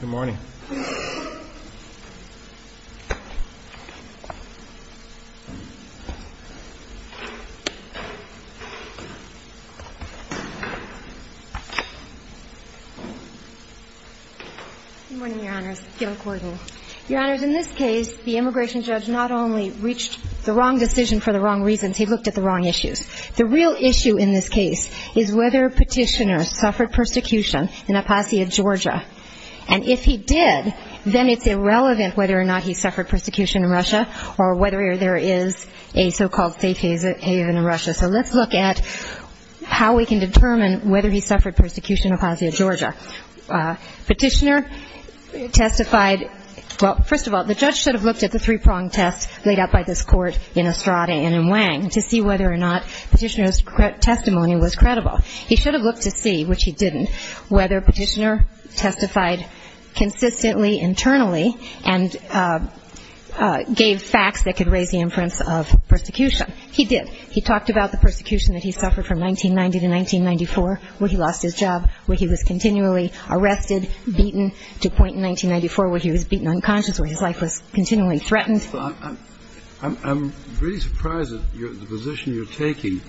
Good morning, Your Honors. In this case, the immigration judge not only reached the wrong decision for the wrong reasons, he looked at the wrong issues. The real issue in this case is whether Petitioner suffered persecution in Apasia, Georgia. And if he did, then it's irrelevant whether or not he suffered persecution in Russia or whether there is a so-called safe haven in Russia. So let's look at how we can determine whether he suffered persecution in Apasia, Georgia. Petitioner testified, well, first of all, the judge should have looked at the three-pronged test laid out by this court in Estrada and in Wang to see whether or not Petitioner's testimony was credible. He should have looked to see, which he didn't, whether Petitioner testified consistently internally and gave facts that could raise the inference of persecution. He did. He talked about the persecution that he suffered from 1990 to 1994 where he lost his life, where his life was continually threatened. I'm really surprised at the position you're taking.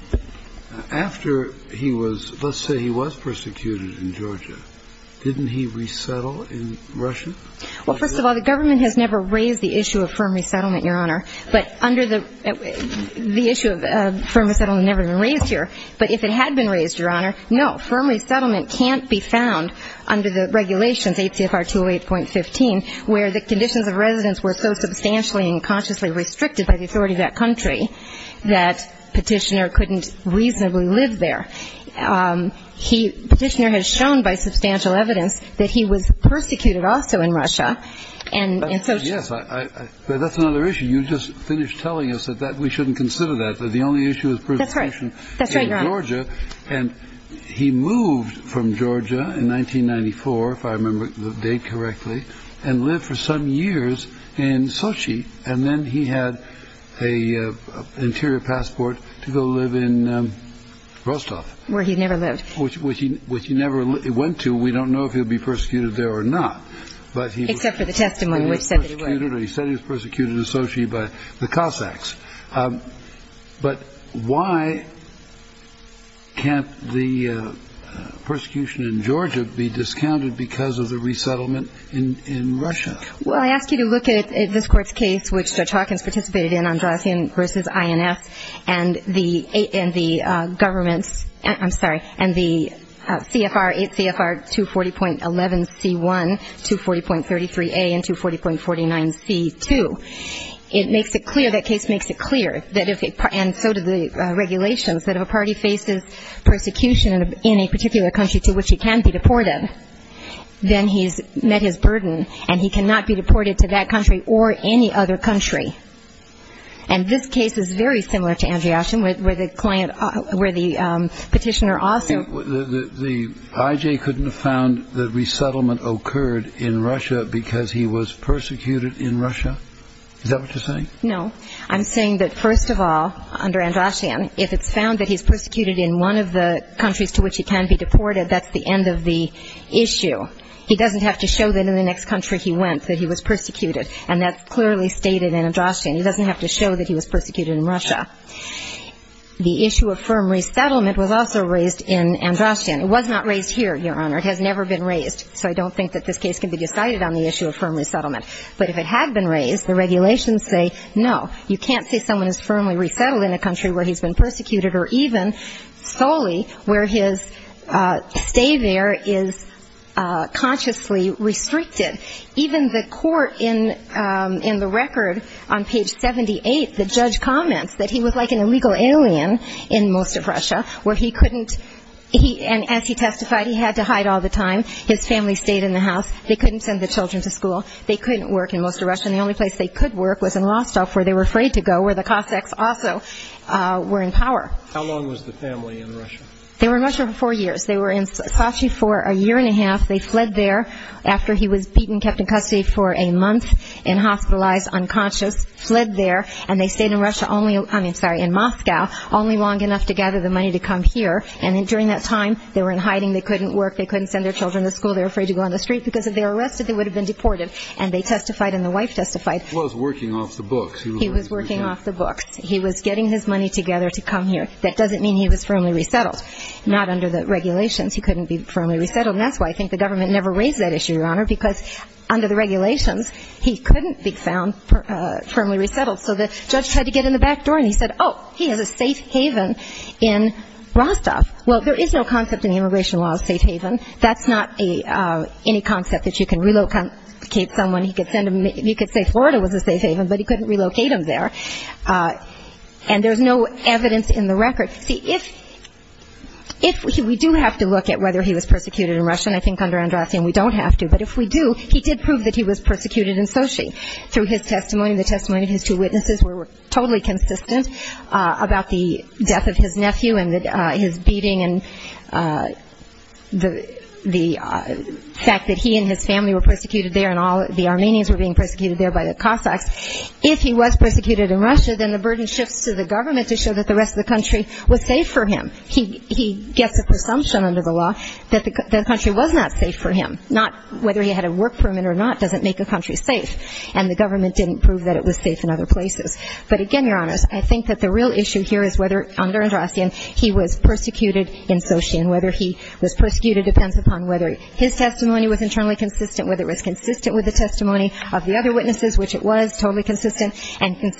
After he was, let's say he was persecuted in Georgia, didn't he resettle in Russia? Well, first of all, the government has never raised the issue of firm resettlement, Your Honor. But under the issue of firm resettlement never been raised here. But if it had been raised, Your Honor, no, firm resettlement can't be found under the regulations 8 CFR 208.15 where the conditions of residence were so substantially and consciously restricted by the authority of that country that Petitioner couldn't reasonably live there. Petitioner has shown by substantial evidence that he was persecuted also in Russia. And so... But that's another issue. You just finished telling us that we shouldn't consider that, that the only issue is persecution in Georgia. And he moved from Georgia in 1994, if I remember the date correctly, and lived for some years in Sochi. And then he had an interior passport to go live in Rostov, where he never lived, which he never went to. We don't know if he'll be persecuted there or not, but he accepted the testimony. He said he was persecuted in Sochi by the Cossacks. But why can't the persecution in Georgia be discounted because of the resettlement in Russia? Well, I ask you to look at this Court's case, which Judge Hawkins participated in, Andrazian v. INF, and the government's, I'm sorry, and the CFR, 8 CFR 240.11C1, 240.33A, and 240.49C2. It makes it clear, that case makes it clear, and so do the regulations, that if a party faces persecution in a particular country to which he can be deported, then he's met his burden, and he cannot be deported to that country or any other country. And this case is very similar to Andrazian, where the petitioner also... The I.J. couldn't have found that resettlement occurred in Russia because he was persecuted in Russia? Is that what you're saying? No. I'm saying that, first of all, under Andrazian, if it's found that he's persecuted in one of the countries to which he can be deported, that's the end of the issue. He doesn't have to show that in the next country he went, that he was persecuted. And that's clearly stated in Andrazian. He doesn't have to show that he was persecuted in Russia. The issue of firm resettlement was also raised in Andrazian. It was not raised here, Your Honor. It has never been raised. So I don't think that this case can be decided on the issue of firm resettlement. But if it had been raised, the regulations say, no, you can't say someone is firmly resettled in a country where he's been persecuted, or even solely where his stay there is consciously restricted. Even the record on page 78, the judge comments that he was like an illegal alien in most of Russia, where he couldn't, and as he testified, he had to hide all the time. His family stayed in the house. They couldn't send the children to school. They couldn't work in most of Russia. And the only place they could work was in Rostov, where they were afraid to go, where the Cossacks also were in power. They were in Rostov for four years. They were in Sochi for a year and a half. They fled there after he was beaten, kept in custody for a month in hospitalized, unconscious, fled there, and they stayed in Moscow only long enough to gather the money to come here. And during that time, they were in hiding. They couldn't work. They couldn't send their children to school. They were afraid to go on the street, because if they were arrested, they would have been deported. And they testified, and the wife testified. He was working off the books. He was getting his money together to come here. That doesn't mean he was firmly resettled. Not under the regulations. He couldn't be firmly resettled. And that's why I think the government never raised that issue, Your Honor, because under the regulations, he couldn't be found firmly resettled. So the judge tried to get in the back door, and he said, oh, he has a safe haven in Rostov. Well, there is no concept in the immigration law of safe haven. That's not any concept that you can relocate someone. You could say Florida, but he couldn't relocate him there. And there's no evidence in the record. See, if we do have to look at whether he was persecuted in Russia, and I think under Andratheim, we don't have to, but if we do, he did prove that he was persecuted in Sochi through his testimony. The testimony of his two witnesses were totally consistent about the death of his nephew and his beating and the fact that he and his family were persecuted there, and all that. So I think that the real issue here is whether, under Andratheim, whether he was persecuted in Sochi and whether he was persecuted in Russia, then the burden shifts to the government to show that the rest of the country was safe for him. He gets a presumption under the law that the country was not safe for him. Not whether he had a work permit or not doesn't make a country safe. And the government didn't prove that it was safe in other places. But again, Your Honors, I think that the real issue here is whether under Andratheim, he was persecuted in Sochi and whether he was persecuted in Russia, then the burden shifts to the government to show that the rest of the country was safe for him. Not whether he had a work permit or not doesn't make a country safe. And the government didn't prove that it was safe in other places. But again, Your Honors, I think that the real issue here is whether under Andratheim, he was persecuted in Russia and whether he was persecuted in Russia, then the burden shifts to the government to show that the rest of the country was safe for him. Not whether he had a work permit or not doesn't make a country safe. And again, Your Honors, I think that the real issue here is whether under Andratheim, he was persecuted in Russia and whether he was persecuted in Russia, then the burden shifts to the government to show that the rest of the country was safe in other places. And again, Your Honors, I think that the record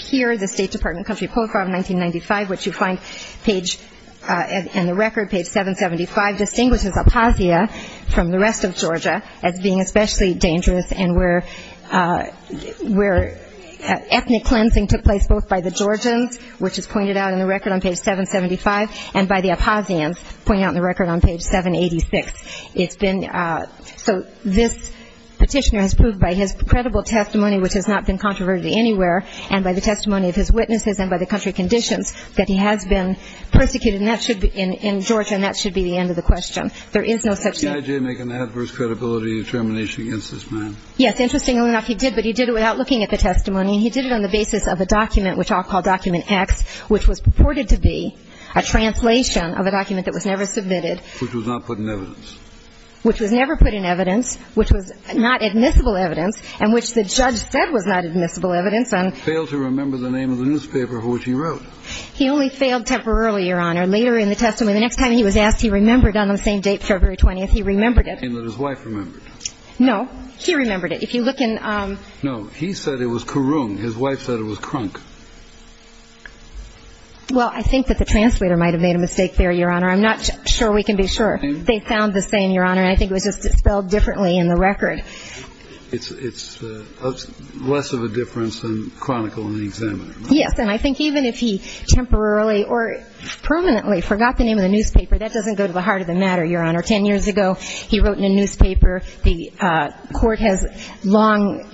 here, the state department, country profile of 1995, what you find in the record, page 775, distinguishes Aposia from the rest of Georgia. As being especially dangerous and where ethnic cleansing took place both by the Georgians, which is pointed out in the record on page 775, and by the Aposians, pointed out in the record on page 786. It's been, so this petitioner has proved by his credible testimony, which has not been controverted anywhere, and by the testimony of his witnesses and by the country conditions, that he has been persecuted, and that should be in Georgia, and that should be the end of the question. There is no such thing. Yes, interestingly enough, he did, but he did it without looking at the testimony, and he did it on the basis of a document, which I'll call document X, which was purported to be a translation of a document that was never submitted. Which was not put in evidence. Which was not admissible evidence, and which the judge said was not admissible evidence, and Failed to remember the name of the newspaper of which he wrote. He only failed temporarily, Your Honor. Later in the testimony, the next time he was asked, he remembered on the same date, February 20th, he remembered it. And that his wife remembered. No, he remembered it. If you look in No, he said it was Kurung. His wife said it was Krunk. Well, I think that the translator might have made a mistake there, Your Honor. I'm not sure we can be sure. They found the same, Your Honor, and I think it was just spelled differently in the record. It's less of a difference than Chronicle and the Examiner. Yes, and I think even if he temporarily or permanently forgot the name of the newspaper, that doesn't go to the heart of the matter, Your Honor. Ten years ago, he wrote in a newspaper, the court has long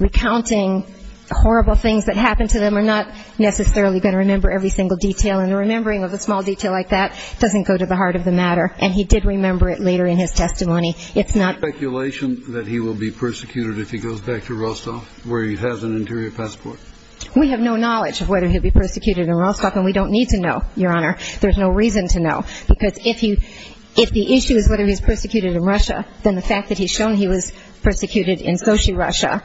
recounting horrible things that happened to them, and not necessarily going to remember every single detail. And the remembering of a small detail like that doesn't go to the heart of the matter. And he did remember it later in his testimony. It's not speculation that he will be persecuted if he goes back to Rostov, where he has an interior passport. We have no knowledge of whether he'll be persecuted in Rostov, and we don't need to know, Your Honor. There's no reason to know, because if the issue is whether he's persecuted in Russia, then the fact that he's shown he was persecuted in Sochi, Russia,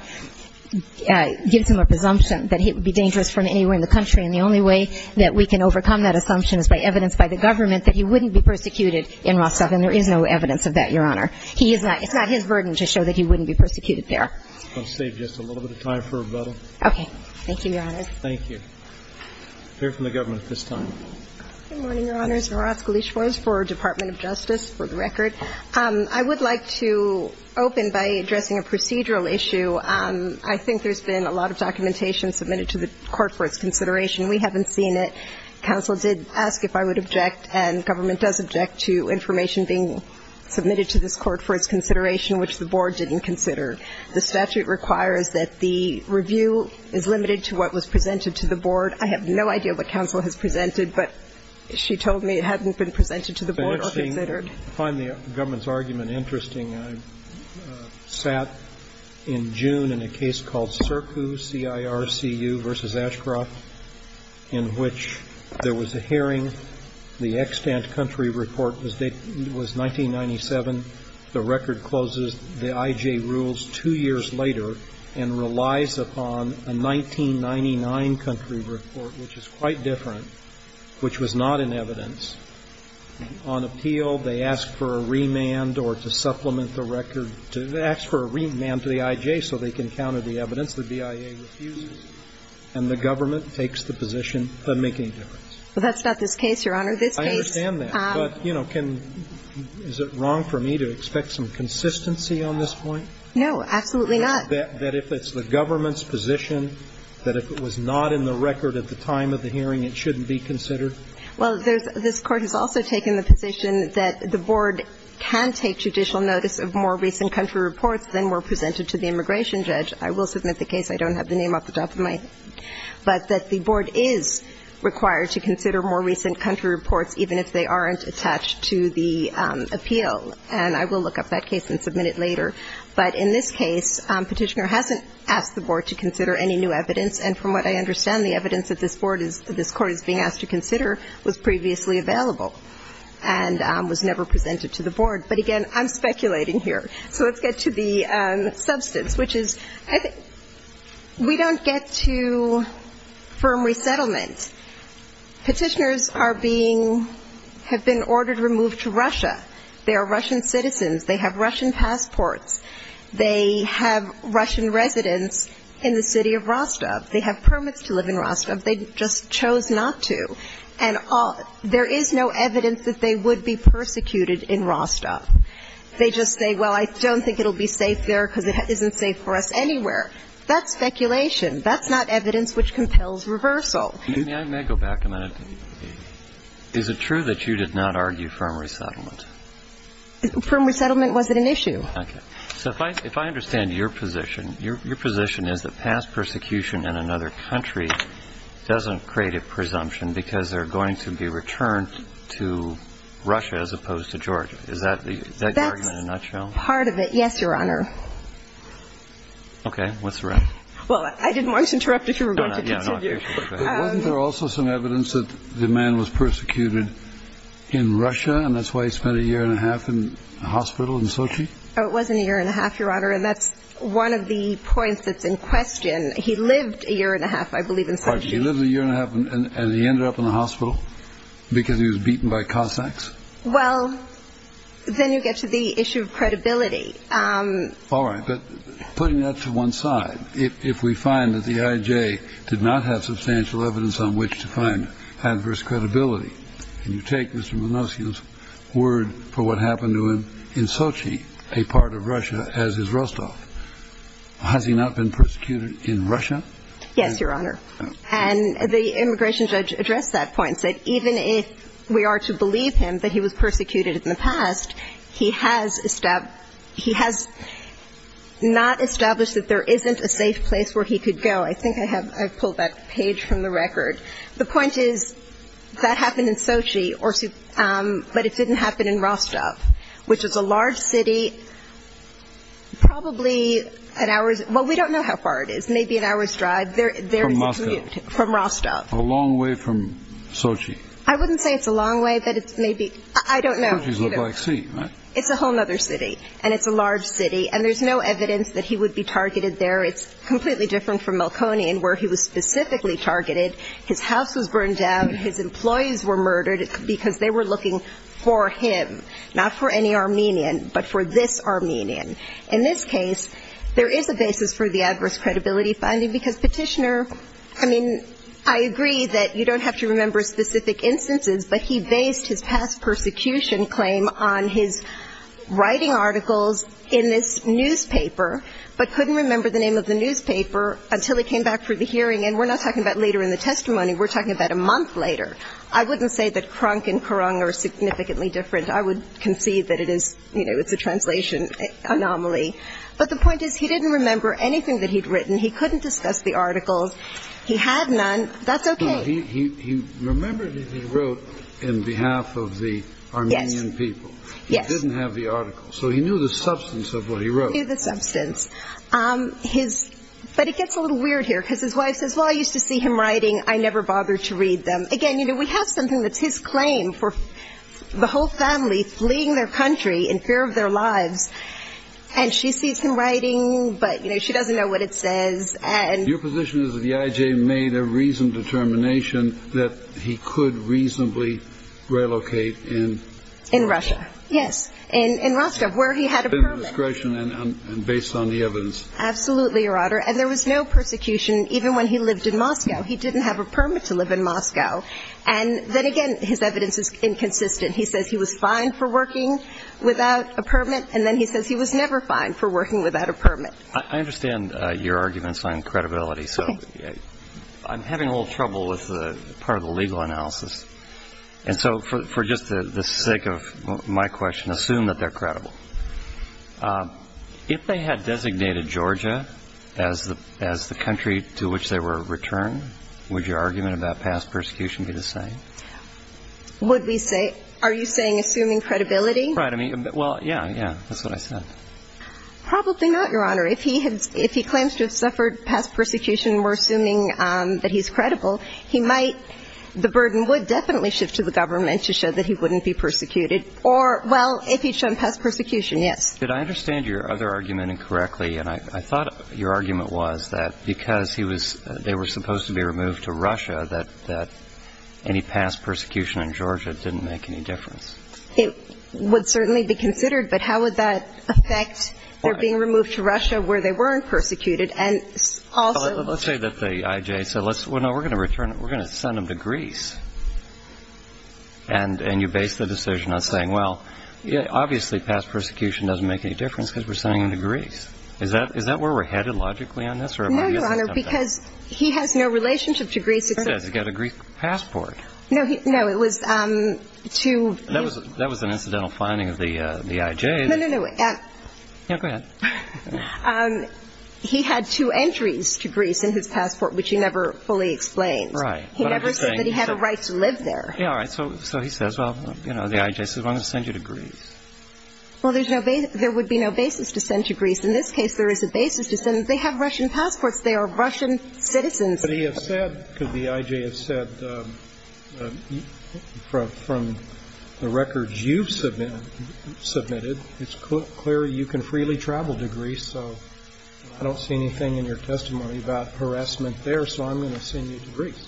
gives him a presumption that he would be dangerous from anywhere in the country, and the only way that we can overcome that assumption is by evidence by the government that he wouldn't be persecuted in Rostov, and there is no evidence of that, Your Honor. It's not his burden to show that he wouldn't be persecuted there. I'm going to save just a little bit of time for rebuttal. Okay. Thank you, Your Honor. Thank you. We'll hear from the government at this time. Good morning, Your Honors. Nora Oskolich for the Department of Justice, for the record. I would like to open by addressing a procedural issue. I think there's been a lot of documentation submitted to the court for its consideration. We haven't seen it. Counsel did ask if I would object, and government does object to information being submitted to this court for its consideration, which the board didn't consider. The statute requires that the review is limited to what was presented to the board. I have no idea what counsel has presented, but she told me it hadn't been presented to the board or considered. I find the government's argument interesting. I sat in June in a case called CIRCU, C-I-R-C-U, v. Ashcroft, in which there was a hearing. The extant country report was 1997. The record closes the I.J. rules two years later and relies upon a 1999 country report, which is quite different, which was not in evidence. On appeal, they ask for a remand or to supplement the record. They ask for a remand to the I.J. so they can counter the evidence. The BIA refuses, and the government takes the position of making a difference. Well, that's not this case, Your Honor. This case ---- I understand that, but, you know, can ---- is it wrong for me to expect some consistency on this point? No, absolutely not. That if it's the government's position, that if it was not in the record at the time of the hearing, it shouldn't be considered? Well, there's ---- this Court has also taken the position that the board can take judicial notice of more recent country reports than were presented to the immigration judge. I will submit the case. I don't have the name off the top of my head. But that the board is required to consider more recent country reports even if they aren't attached to the appeal. And I will look up that case and submit it later. But in this case, Petitioner hasn't asked the board to consider any new evidence. And from what I understand, the evidence that this board is ---- this Court is being asked to consider was previously available and was never presented to the board. But, again, I'm speculating here. So let's get to the substance, which is we don't get to firm resettlement. Petitioners are being ---- have been ordered removed to Russia. They are Russian citizens. They have Russian passports. They have Russian residence in the city of Rostov. They have permits to live in Rostov. They just chose not to. And there is no evidence that they would be persecuted in Rostov. They just say, well, I don't think it will be safe there because it isn't safe for us anywhere. That's speculation. That's not evidence which compels reversal. May I go back a minute? Is it true that you did not argue firm resettlement? Firm resettlement wasn't an issue. Okay. So if I understand your position, your position is that past persecution in another country doesn't create a presumption because they're going to be returned to Russia as opposed to Georgia. Is that the argument in a nutshell? That's part of it. Yes, Your Honor. Okay. What's the rest? Well, I didn't want to interrupt if you were going to continue. Wasn't there also some evidence that the man was persecuted in Russia and that's why he spent a year and a half in a hospital in Sochi? Oh, it wasn't a year and a half, Your Honor, and that's one of the points that's in question. He lived a year and a half, I believe, in Sochi. Pardon me. He lived a year and a half and he ended up in a hospital because he was beaten by Cossacks? Well, then you get to the issue of credibility. All right. But putting that to one side, if we find that the IJ did not have substantial evidence on which to find adverse credibility, and you take Mr. Milosevic's word for what happened to him in Sochi, a part of Russia, as his Rostov, has he not been persecuted in Russia? Yes, Your Honor. And the immigration judge addressed that point and said even if we are to believe him that he was persecuted in the past, he has not established that there isn't a safe place where he could go. I think I have pulled that page from the record. The point is that happened in Sochi, but it didn't happen in Rostov, which is a large city probably an hour's – well, we don't know how far it is, maybe an hour's drive. From Moscow. From Rostov. A long way from Sochi. I wouldn't say it's a long way, but it's maybe – I don't know. Sochi's a little by sea, right? It's a whole other city. And it's a large city. And there's no evidence that he would be targeted there. It's completely different from Malkonian where he was specifically targeted. His house was burned down. His employees were murdered because they were looking for him, not for any Armenian, but for this Armenian. In this case, there is a basis for the adverse credibility finding because Petitioner – I mean, I agree that you don't have to remember specific instances, but he based his past persecution claim on his writing articles in this newspaper but couldn't remember the name of the newspaper until he came back for the hearing. And we're not talking about later in the testimony. We're talking about a month later. I wouldn't say that Krunk and Kurung are significantly different. I would concede that it is – you know, it's a translation anomaly. But the point is he didn't remember anything that he'd written. He couldn't discuss the articles. He had none. That's okay. He remembered that he wrote on behalf of the Armenian people. Yes. He didn't have the articles. So he knew the substance of what he wrote. He knew the substance. But it gets a little weird here because his wife says, Well, I used to see him writing. I never bothered to read them. Again, you know, we have something that's his claim for the whole family fleeing their country in fear of their lives. And she sees him writing, but, you know, she doesn't know what it says. Your position is that the IJ made a reasoned determination that he could reasonably relocate in Russia. Yes. In Rostov where he had a permit. And based on the evidence. Absolutely, Your Honor. And there was no persecution even when he lived in Moscow. He didn't have a permit to live in Moscow. And then again, his evidence is inconsistent. He says he was fined for working without a permit. And then he says he was never fined for working without a permit. I understand your arguments on credibility. So I'm having a little trouble with part of the legal analysis. And so for just the sake of my question, assume that they're credible. If they had designated Georgia as the country to which they were returned, would your argument about past persecution be the same? Would we say? Are you saying assuming credibility? Right. I mean, well, yeah, yeah. That's what I said. Probably not, Your Honor. If he claims to have suffered past persecution, we're assuming that he's credible. He might, the burden would definitely shift to the government to show that he wouldn't be persecuted. Or, well, if he'd shown past persecution, yes. Did I understand your other argument incorrectly? And I thought your argument was that because they were supposed to be removed to Russia, that any past persecution in Georgia didn't make any difference. It would certainly be considered. But how would that affect their being removed to Russia where they weren't persecuted? Let's say that the IJ said, well, no, we're going to send them to Greece. And you base the decision on saying, well, obviously, past persecution doesn't make any difference because we're sending them to Greece. Is that where we're headed logically on this? No, Your Honor, because he has no relationship to Greece. He's got a Greek passport. No, it was two. That was an incidental finding of the IJ. No, no, no. Yeah, go ahead. He had two entries to Greece in his passport, which he never fully explained. Right. He never said that he had a right to live there. Yeah, all right. So he says, well, you know, the IJ says, well, I'm going to send you to Greece. Well, there would be no basis to send to Greece. In this case, there is a basis to send. They have Russian passports. They are Russian citizens. But he has said, because the IJ has said, from the records you've submitted, it's clear you can freely travel to Greece. So I don't see anything in your testimony about harassment there, so I'm going to send you to Greece.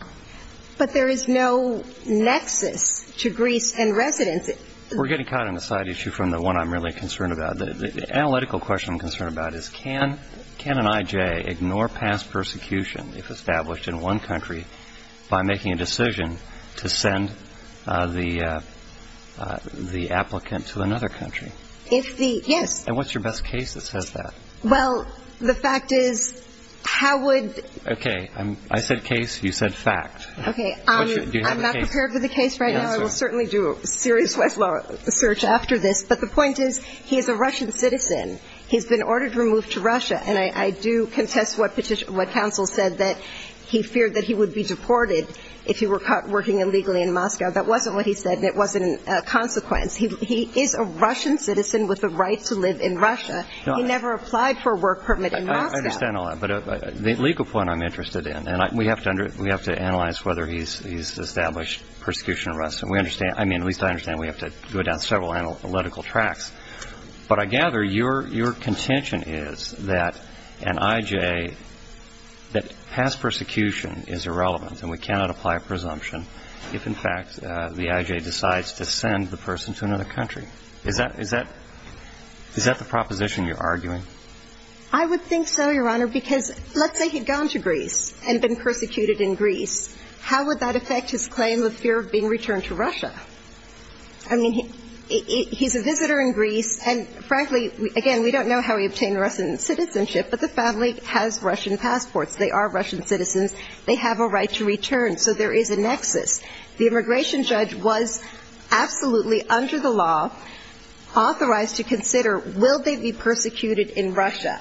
But there is no nexus to Greece and residence. We're getting caught on a side issue from the one I'm really concerned about. The analytical question I'm concerned about is can an IJ ignore past persecution if established in one country by making a decision to send the applicant to another country? Yes. And what's your best case that says that? Well, the fact is, how would the – Okay. I said case. You said fact. Okay. Do you have a case? I'm not prepared for the case right now. I will certainly do a serious Westlaw search after this. But the point is, he is a Russian citizen. He's been ordered to move to Russia. And I do contest what counsel said, that he feared that he would be deported if he were caught working illegally in Moscow. That wasn't what he said, and it wasn't a consequence. He is a Russian citizen with a right to live in Russia. He never applied for a work permit in Moscow. I understand all that. But the legal point I'm interested in, and we have to analyze whether he's established persecution or arrest. And we understand – I mean, at least I understand we have to go down several analytical tracks. But I gather your contention is that an I.J. that has persecution is irrelevant and we cannot apply a presumption if, in fact, the I.J. decides to send the person to another country. Is that the proposition you're arguing? I would think so, Your Honor, because let's say he'd gone to Greece and been persecuted in Greece. How would that affect his claim of fear of being returned to Russia? I mean, he's a visitor in Greece, and frankly, again, we don't know how he obtained Russian citizenship, but the family has Russian passports. They are Russian citizens. They have a right to return. So there is a nexus. The immigration judge was absolutely under the law authorized to consider, will they be persecuted in Russia?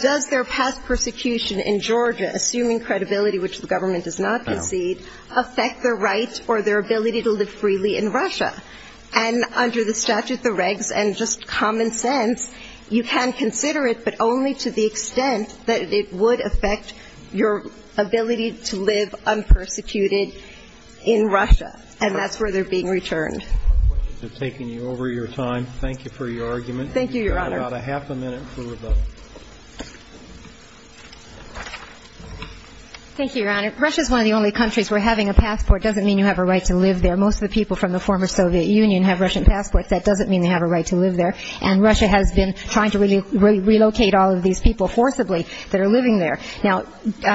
Does their past persecution in Georgia, assuming credibility, which the And under the statute, the regs, and just common sense, you can consider it, but only to the extent that it would affect your ability to live unpersecuted in Russia. And that's where they're being returned. I apologize for taking you over your time. Thank you for your argument. Thank you, Your Honor. You have about a half a minute for rebuttal. Thank you, Your Honor. Russia is one of the only countries where having a passport doesn't mean you have a right to live there. And Russia has been trying to relocate all of these people forcibly that are living there. Now,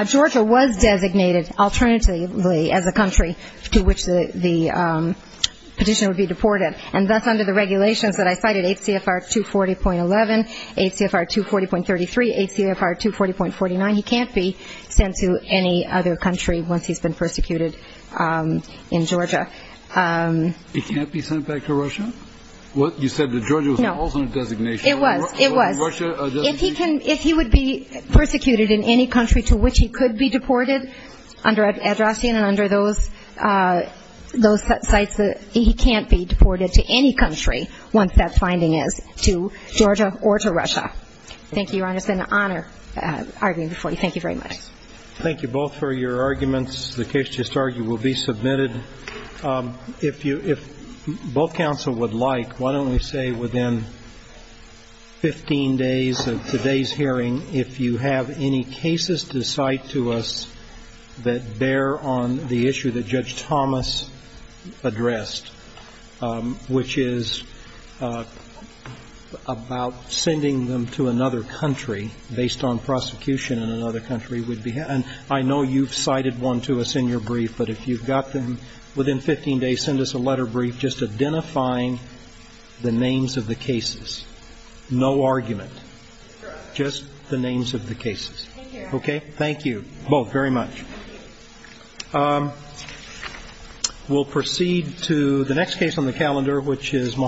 Georgia was designated alternatively as a country to which the petitioner would be deported. And that's under the regulations that I cited, 8 CFR 240.11, 8 CFR 240.33, 8 CFR 240.49. He can't be sent to any other country once he's been persecuted in Georgia. He can't be sent back to Russia? What? You said that Georgia was an alternate designation. It was. It was. Was Russia a designation? If he would be persecuted in any country to which he could be deported under Addressian and under those sites, he can't be deported to any country once that finding is to Georgia or to Russia. Thank you, Your Honor. It's been an honor arguing before you. Thank you very much. Thank you both for your arguments. The case just argued will be submitted. If both counsel would like, why don't we say within 15 days of today's hearing, if you have any cases to cite to us that bear on the issue that Judge Thomas addressed, which is about sending them to another country based on prosecution in another country. I know you've cited one to us in your brief, but if you've got them within 15 days, send us a letter brief just identifying the names of the cases. No argument. Just the names of the cases. Thank you. Thank you both very much. We'll proceed to the next case on the calendar, which is Mahatma Gandhi.